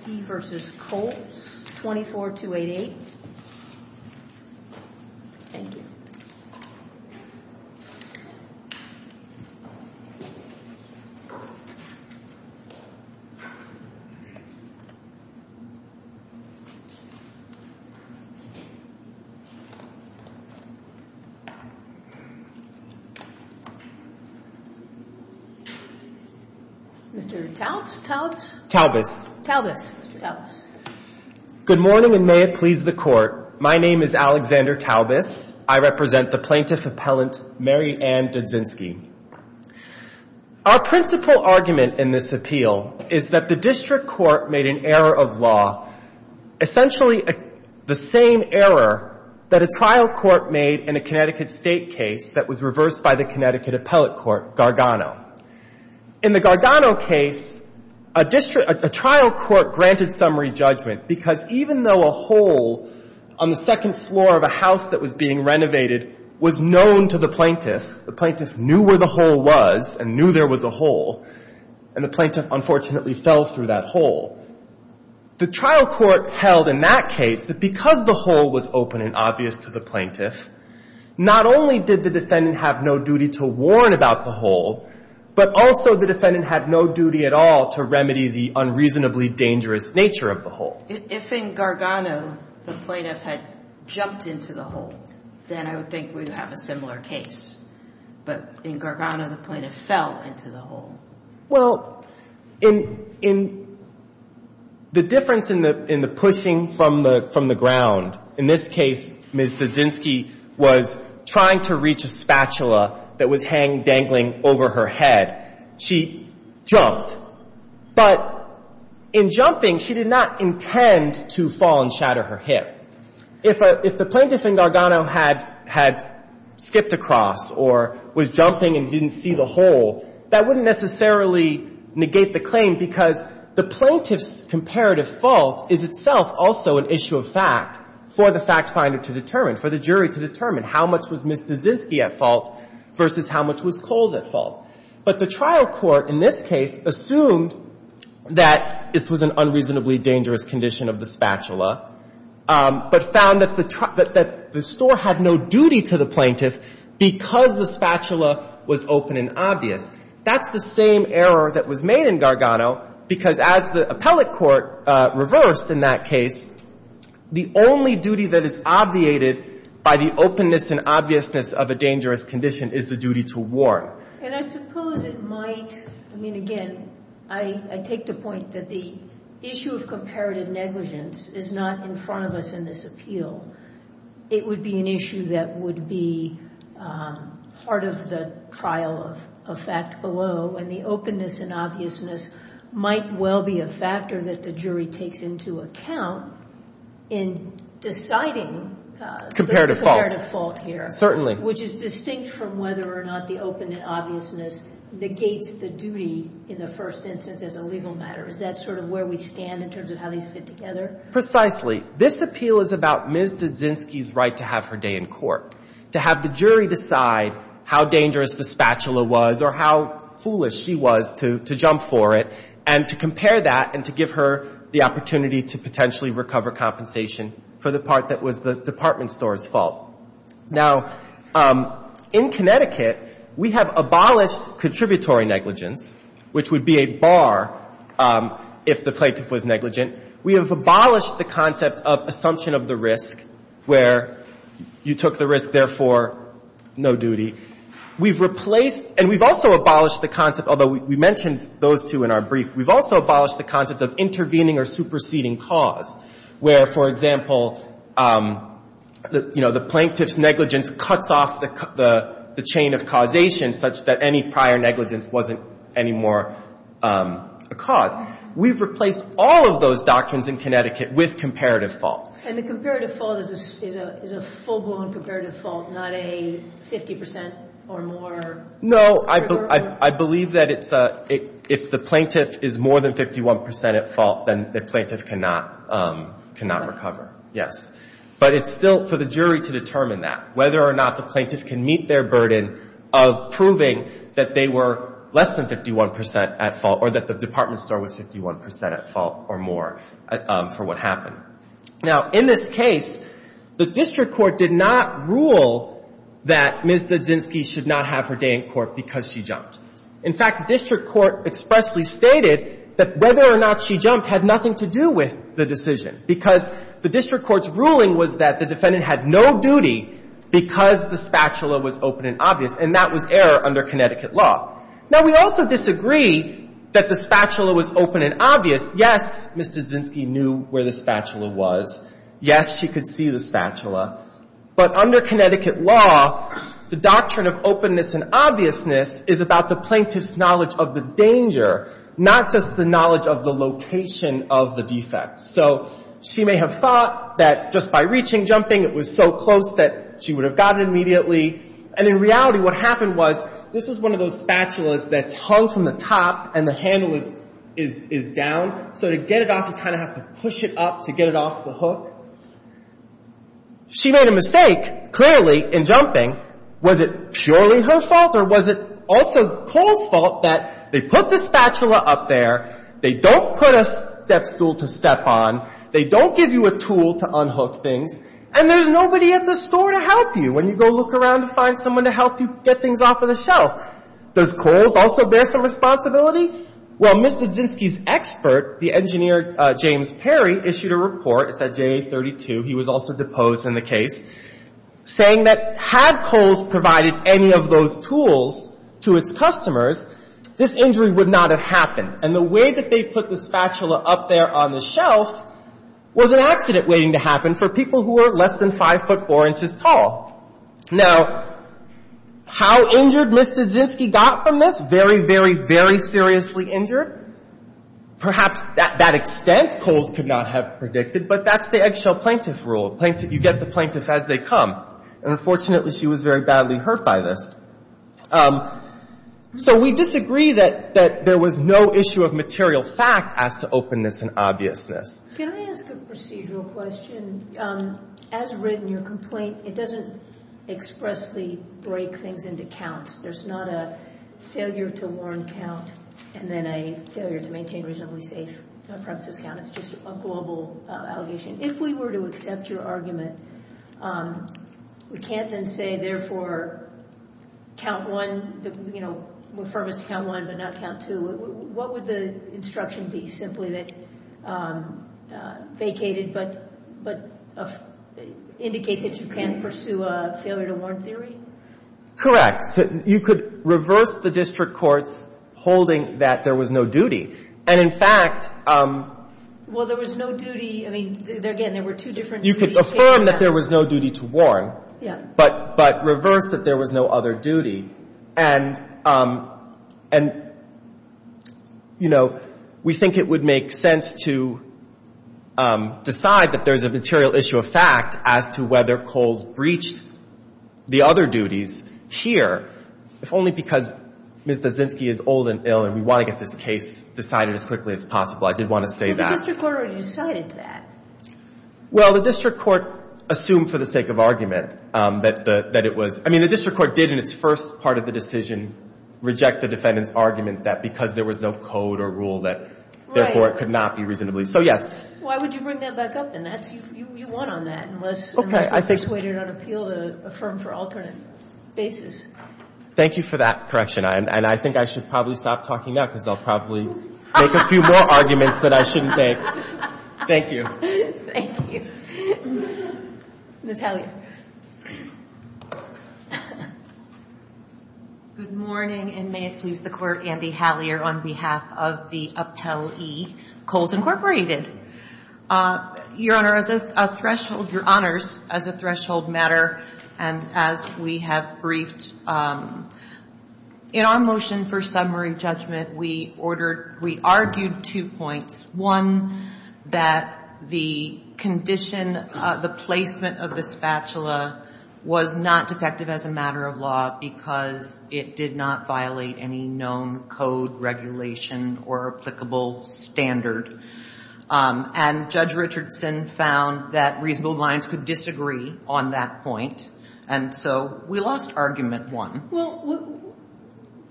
24288. Thank you. Mr. Taubes? Taubes. Taubes. Mr. Taubes. Good morning, and may it please the Court. My name is Alexander Taubes. I represent the Plaintiff Appellant Mary Ann Dudzinski. Our principal argument in this appeal is that the District Court made an error of law, essentially the same error that a trial court made in a Connecticut State case that was reversed by the Connecticut Appellate Court, Gargano. In the Gargano case, a trial court granted summary judgment because even though a hole on the second floor of a house that was being renovated was known to the plaintiff, the plaintiff knew where the hole was and knew there was a hole, and the plaintiff unfortunately fell through that hole, the trial court held in that case that because the hole was open and obvious to the plaintiff, not only did the defendant have no duty to warn about the hole, but also the defendant had no duty at all to remedy the unreasonably dangerous nature of the hole. If in Gargano, the plaintiff had jumped into the hole, then I would think we would have a similar case. But in Gargano, the plaintiff fell into the hole. Well, in the difference in the pushing from the ground, in this case, Ms. Dudzinski was trying to reach a spatula that was dangling over her head. She jumped. But in jumping, she did not intend to fall and shatter her hip. If the plaintiff in Gargano had skipped across or was jumping and didn't see the hole, that wouldn't necessarily negate the claim because the plaintiff's comparative fault is itself also an issue of fact for the fact finder to determine, for the jury to determine how much was Ms. Dudzinski at fault versus how much was Coles at fault. But the trial court in this case assumed that this was an unreasonably dangerous condition of the spatula, but found that the store had no duty to the plaintiff because the spatula was open and obvious. That's the same error that was made in Gargano because, as the appellate court reversed in that case, the only duty that is obviated by the openness and obviousness of a dangerous condition is the duty to warn. And I suppose it might, I mean, again, I take the point that the issue of comparative negligence is not in front of us in this appeal. It would be an issue that would be part of the trial of fact below, and the openness and obviousness might well be a factor that the jury takes into account in deciding the comparative fault here. Certainly. Which is distinct from whether or not the open and obviousness negates the duty in the first instance as a legal matter. Is that sort of where we stand in terms of how these fit together? Precisely. This appeal is about Ms. Dudzinski's right to have her day in court, to have the jury decide how dangerous the spatula was or how foolish she was to jump for it, and to compare that and to give her the opportunity to potentially recover compensation for the part that was the department store's fault. Now, in Connecticut, we have abolished contributory negligence, which would be a bar if the plaintiff was negligent. We have abolished the concept of assumption of the risk, where you took the risk, therefore, no duty. We've replaced, and we've also abolished the concept, although we mentioned those two in our brief, we've also abolished the concept of intervening or superseding cause. Where, for example, you know, the plaintiff's negligence cuts off the chain of causation such that any prior negligence wasn't any more a cause. We've replaced all of those doctrines in Connecticut with comparative fault. And the comparative fault is a full-blown comparative fault, not a 50 percent or more? No, I believe that if the plaintiff is more than 51 percent at fault, then the plaintiff cannot recover, yes. But it's still for the jury to determine that, whether or not the plaintiff can meet their burden of proving that they were less than 51 percent at fault or that the department store was 51 percent at fault or more for what happened. Now, in this case, the district court did not rule that Ms. Dudzinski should not have her day in court because she jumped. In fact, district court expressly stated that whether or not she jumped had nothing to do with the decision, because the district court's ruling was that the defendant had no duty because the spatula was open and obvious, and that was error under Connecticut law. Now, we also disagree that the spatula was open and obvious. Yes, Ms. Dudzinski knew where the spatula was. Yes, she could see the spatula. But under Connecticut law, the doctrine of openness and obviousness is about the plaintiff's knowledge of the danger, not just the knowledge of the location of the defect. So she may have thought that just by reaching jumping, it was so close that she would have gotten it immediately. And in reality, what happened was this is one of those spatulas that's hung from the top and the handle is down. So to get it off, you kind of have to push it up to get it off the hook. She made a mistake, clearly, in jumping. Now, was it purely her fault or was it also Cole's fault that they put the spatula up there, they don't put a step stool to step on, they don't give you a tool to unhook things, and there's nobody at the store to help you when you go look around to find someone to help you get things off of the shelf. Does Cole's also bear some responsibility? Well, Ms. Dudzinski's expert, the engineer James Perry, issued a report. It's at JA32. He was also deposed in the case, saying that had Cole's provided any of those tools to its customers, this injury would not have happened. And the way that they put the spatula up there on the shelf was an accident waiting to happen for people who were less than 5 foot 4 inches tall. Now, how injured Ms. Dudzinski got from this? Very, very, very seriously injured. Perhaps to that extent, Cole's could not have predicted, but that's the eggshell plaintiff rule. You get the plaintiff as they come. And unfortunately, she was very badly hurt by this. So we disagree that there was no issue of material fact as to openness and obviousness. Can I ask a procedural question? As written in your complaint, it doesn't expressly break things into counts. There's not a failure to warn count and then a failure to maintain reasonably safe premises count. It's just a global allegation. If we were to accept your argument, we can't then say, therefore, count 1, you know, we're firm as to count 1 but not count 2. What would the instruction be simply that vacated but indicate that you can't pursue a failure to warn theory? Correct. You could reverse the district court's holding that there was no duty. And, in fact, Well, there was no duty. I mean, again, there were two different duties. You could affirm that there was no duty to warn. Yeah. But reverse that there was no other duty. And, you know, we think it would make sense to decide that there's a material issue of fact as to whether Coles breached the other duties here, if only because Ms. Dozinski is old and ill and we want to get this case decided as quickly as possible. I did want to say that. But the district court already decided that. Well, the district court assumed for the sake of argument that it was. I mean, the district court did in its first part of the decision reject the defendant's argument that because there was no code or rule that, therefore, it could not be reasonably. So, yes. Why would you bring that back up? And you won on that. Okay. I think. Unless you persuaded on appeal to affirm for alternate basis. Thank you for that correction. And I think I should probably stop talking now because I'll probably make a few more arguments that I shouldn't make. Thank you. Thank you. Ms. Hallier. Good morning. And may it please the Court, Andy Hallier, on behalf of the appellee, Coles Incorporated. Your Honor, as a threshold matter, and as we have briefed, in our motion for summary judgment, we argued two points. One, that the condition, the placement of the spatula was not defective as a matter of law because it did not violate any known code regulation or applicable standard. And Judge Richardson found that reasonable minds could disagree on that point. And so we lost argument one. Well,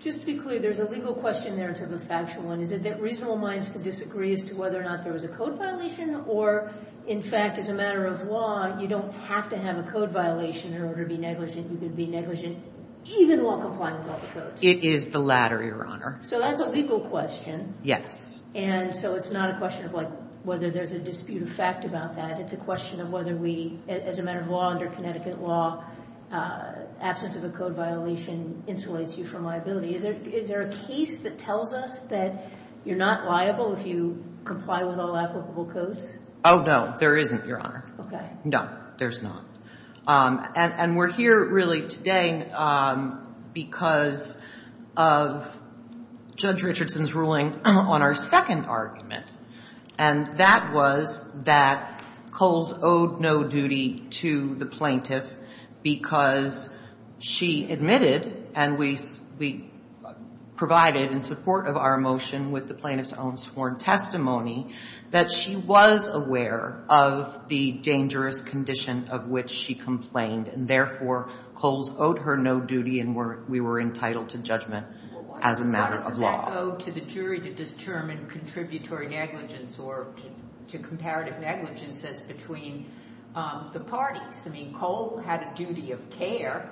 just to be clear, there's a legal question there in terms of the factual one. Is it that reasonable minds could disagree as to whether or not there was a code violation? Or, in fact, as a matter of law, you don't have to have a code violation in order to be negligent. You could be negligent even while complying with all the codes. It is the latter, Your Honor. So that's a legal question. Yes. And so it's not a question of, like, whether there's a disputed fact about that. It's a question of whether we, as a matter of law, under Connecticut law, absence of a code violation insulates you from liability. Is there a case that tells us that you're not liable if you comply with all applicable codes? Oh, no. There isn't, Your Honor. Okay. No, there's not. And we're here really today because of Judge Richardson's ruling on our second argument. And that was that Coles owed no duty to the plaintiff because she admitted, and we provided in support of our motion with the plaintiff's own sworn testimony, that she was aware of the dangerous condition of which she complained. And, therefore, Coles owed her no duty and we were entitled to judgment as a matter of law. Well, why does that go to the jury to determine contributory negligence or to comparative negligence as between the parties? I mean, Cole had a duty of care.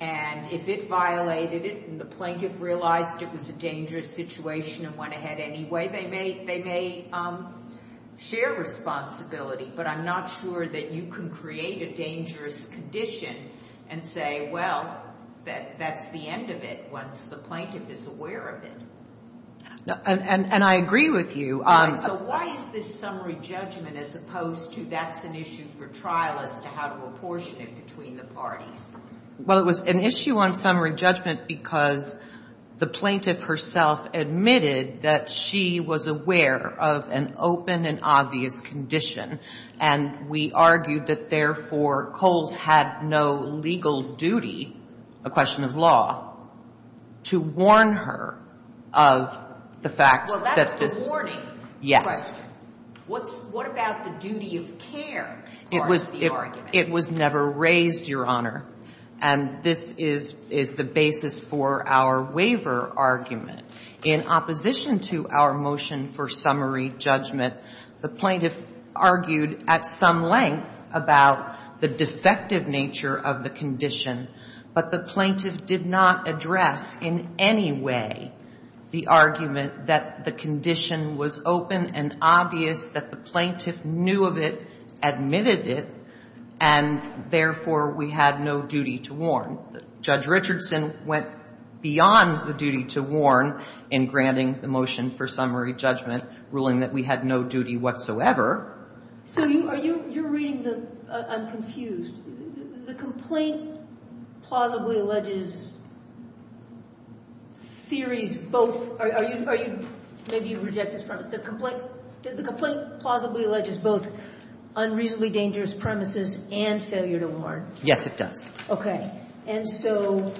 And if it violated it and the plaintiff realized it was a dangerous situation and went ahead anyway, they may share responsibility. But I'm not sure that you can create a dangerous condition and say, well, that's the end of it once the plaintiff is aware of it. And I agree with you. So why is this summary judgment as opposed to that's an issue for trial as to how to apportion it between the parties? Well, it was an issue on summary judgment because the plaintiff herself admitted that she was aware of an open and obvious condition. And we argued that, therefore, Coles had no legal duty, a question of law, to warn her of the fact that this was. Well, that's the warning. Yes. But what about the duty of care part of the argument? It was never raised, Your Honor. And this is the basis for our waiver argument. In opposition to our motion for summary judgment, the plaintiff argued at some length about the defective nature of the condition. But the plaintiff did not address in any way the argument that the condition was open and obvious, that the plaintiff knew of it, admitted it, and, therefore, we had no duty to warn. Judge Richardson went beyond the duty to warn in granting the motion for summary judgment, ruling that we had no duty whatsoever. So you're reading the unconfused. The complaint plausibly alleges theories both. Maybe you reject this premise. The complaint plausibly alleges both unreasonably dangerous premises and failure to warn. Yes, it does. And so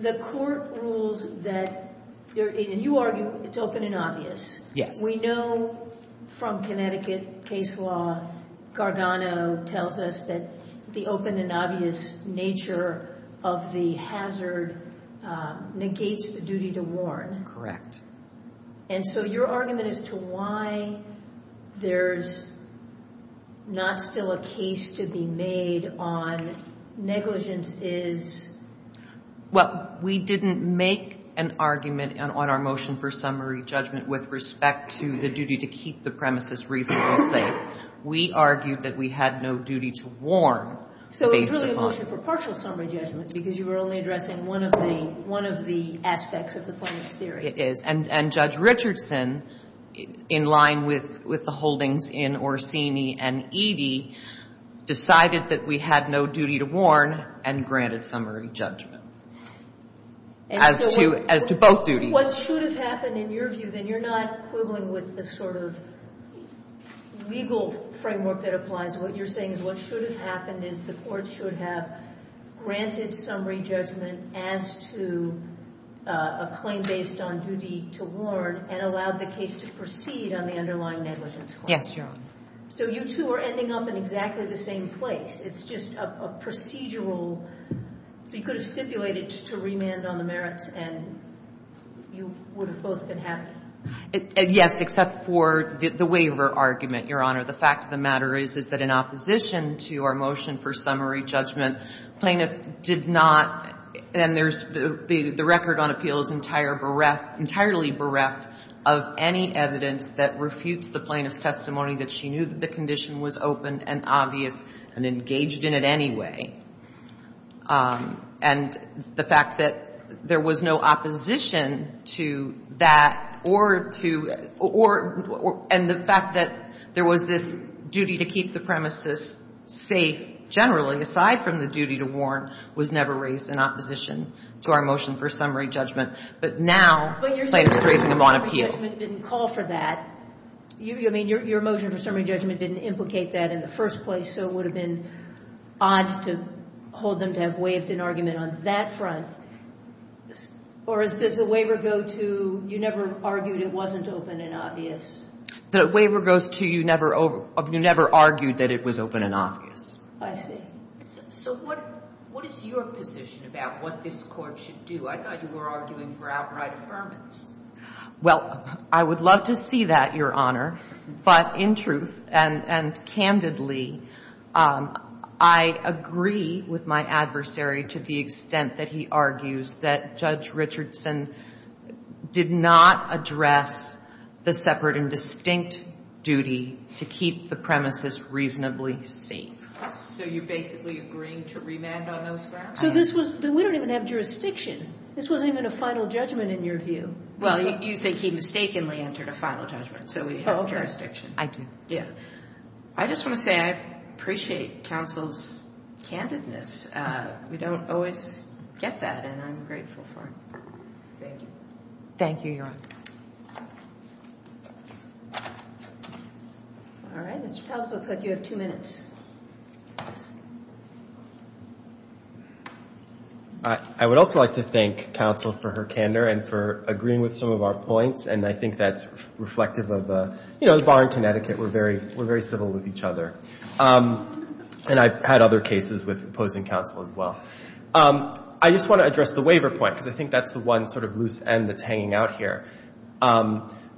the court rules that, and you argue it's open and obvious. Yes. We know from Connecticut case law, Gargano tells us that the open and obvious nature of the hazard negates the duty to warn. And so your argument as to why there's not still a case to be made on negligence is? Well, we didn't make an argument on our motion for summary judgment with respect to the duty to keep the premises reasonably safe. We argued that we had no duty to warn based upon. It's not really a motion for partial summary judgment because you were only addressing one of the aspects of the plaintiff's theory. It is. And Judge Richardson, in line with the holdings in Orsini and Eadie, decided that we had no duty to warn and granted summary judgment as to both duties. What should have happened, in your view, then, you're not quibbling with the sort of legal framework that applies. What you're saying is what should have happened is the court should have granted summary judgment as to a claim based on duty to warn and allowed the case to proceed on the underlying negligence claim. Yes, Your Honor. So you two are ending up in exactly the same place. It's just a procedural. So you could have stipulated to remand on the merits, and you would have both been happy. Yes, except for the waiver argument, Your Honor. The fact of the matter is, is that in opposition to our motion for summary judgment, plaintiff did not, and there's, the record on appeal is entirely bereft of any evidence that refutes the plaintiff's testimony that she knew that the condition was open and obvious and engaged in it anyway. And the fact that there was no opposition to that or to, or, and the fact that there was this duty to keep the premises safe, generally, aside from the duty to warn, was never raised in opposition to our motion for summary judgment. But now plaintiff's raising a bond appeal. But your motion for summary judgment didn't call for that. I mean, your motion for summary judgment didn't implicate that in the first place, so it would have been odd to hold them to have waived an argument on that front. Or does the waiver go to you never argued it wasn't open and obvious? The waiver goes to you never argued that it was open and obvious. I see. So what is your position about what this Court should do? I thought you were arguing for outright affirmance. Well, I would love to see that, Your Honor. But in truth and candidly, I agree with my adversary to the extent that he argues that Judge Richardson did not address the separate and distinct duty to keep the premises reasonably safe. So you're basically agreeing to remand on those grounds? So this was, we don't even have jurisdiction. This wasn't even a final judgment in your view. Well, you think he mistakenly entered a final judgment, so we have jurisdiction. I do. Yeah. I just want to say I appreciate counsel's candidness. We don't always get that, and I'm grateful for it. Thank you. Thank you, Your Honor. All right. Mr. Talbots, it looks like you have two minutes. I would also like to thank counsel for her candor and for agreeing with some of our points, and I think that's reflective of, you know, the bar in Connecticut, we're very civil with each other. And I've had other cases with opposing counsel as well. I just want to address the waiver point because I think that's the one sort of loose end that's hanging out here.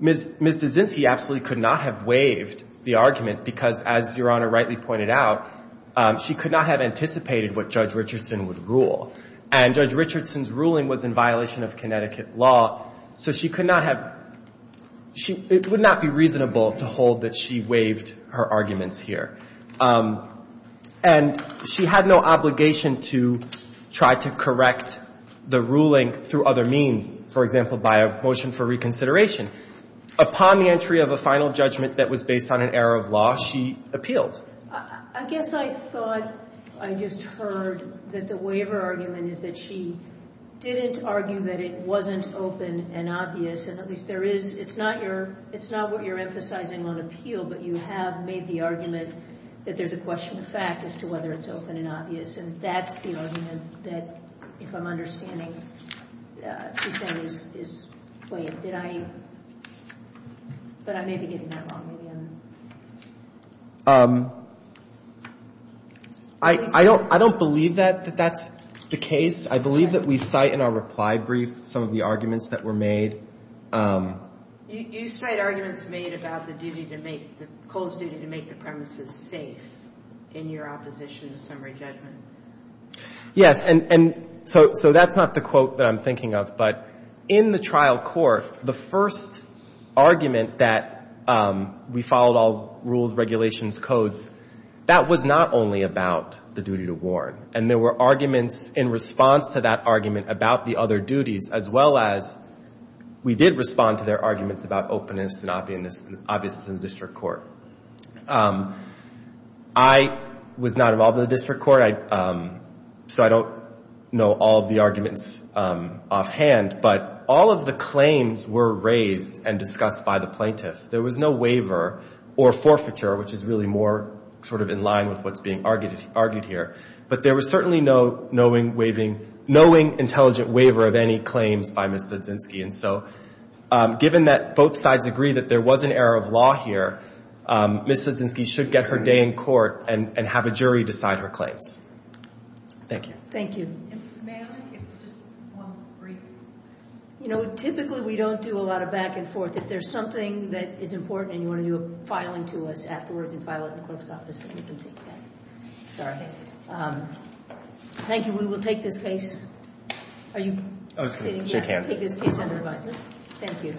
Ms. DeZinci absolutely could not have waived the argument because, as Your Honor rightly pointed out, she could not have anticipated what Judge Richardson would rule. And Judge Richardson's ruling was in violation of Connecticut law, so she could not have, it would not be reasonable to hold that she waived her arguments here. And she had no obligation to try to correct the ruling through other means, for example, by a motion for reconsideration. Upon the entry of a final judgment that was based on an error of law, she appealed. I guess I thought I just heard that the waiver argument is that she didn't argue that it wasn't open and obvious, and at least there is, it's not your, it's not what you're emphasizing on appeal, but you have made the argument that there's a question of fact as to whether it's open and obvious, and that's the argument that, if I'm understanding, she's saying is waived. Did I, but I may be getting that wrong. I don't believe that that's the case. I believe that we cite in our reply brief some of the arguments that were made. You cite arguments made about the duty to make, Cole's duty to make the premises safe in your opposition to summary judgment. Yes, and so that's not the quote that I'm thinking of, but in the trial court, the first argument that we followed all rules, regulations, codes, that was not only about the duty to warn. And there were arguments in response to that argument about the other duties, as well as we did respond to their arguments about openness and obviousness in the district court. I was not involved in the district court, so I don't know all of the arguments offhand, but all of the claims were raised and discussed by the plaintiff. There was no waiver or forfeiture, which is really more sort of in line with what's being argued here, but there was certainly no knowing intelligent waiver of any claims by Ms. Studzinski. And so given that both sides agree that there was an error of law here, Ms. Studzinski should get her day in court and have a jury decide her claims. Thank you. Thank you. And may I get just one brief? You know, typically we don't do a lot of back and forth. If there's something that is important and you want to do a filing to us afterwards and file it in the clerk's office, we can take that. Sorry. Thank you. We will take this case. Are you sitting here? I'll take this case under advisement. Thank you.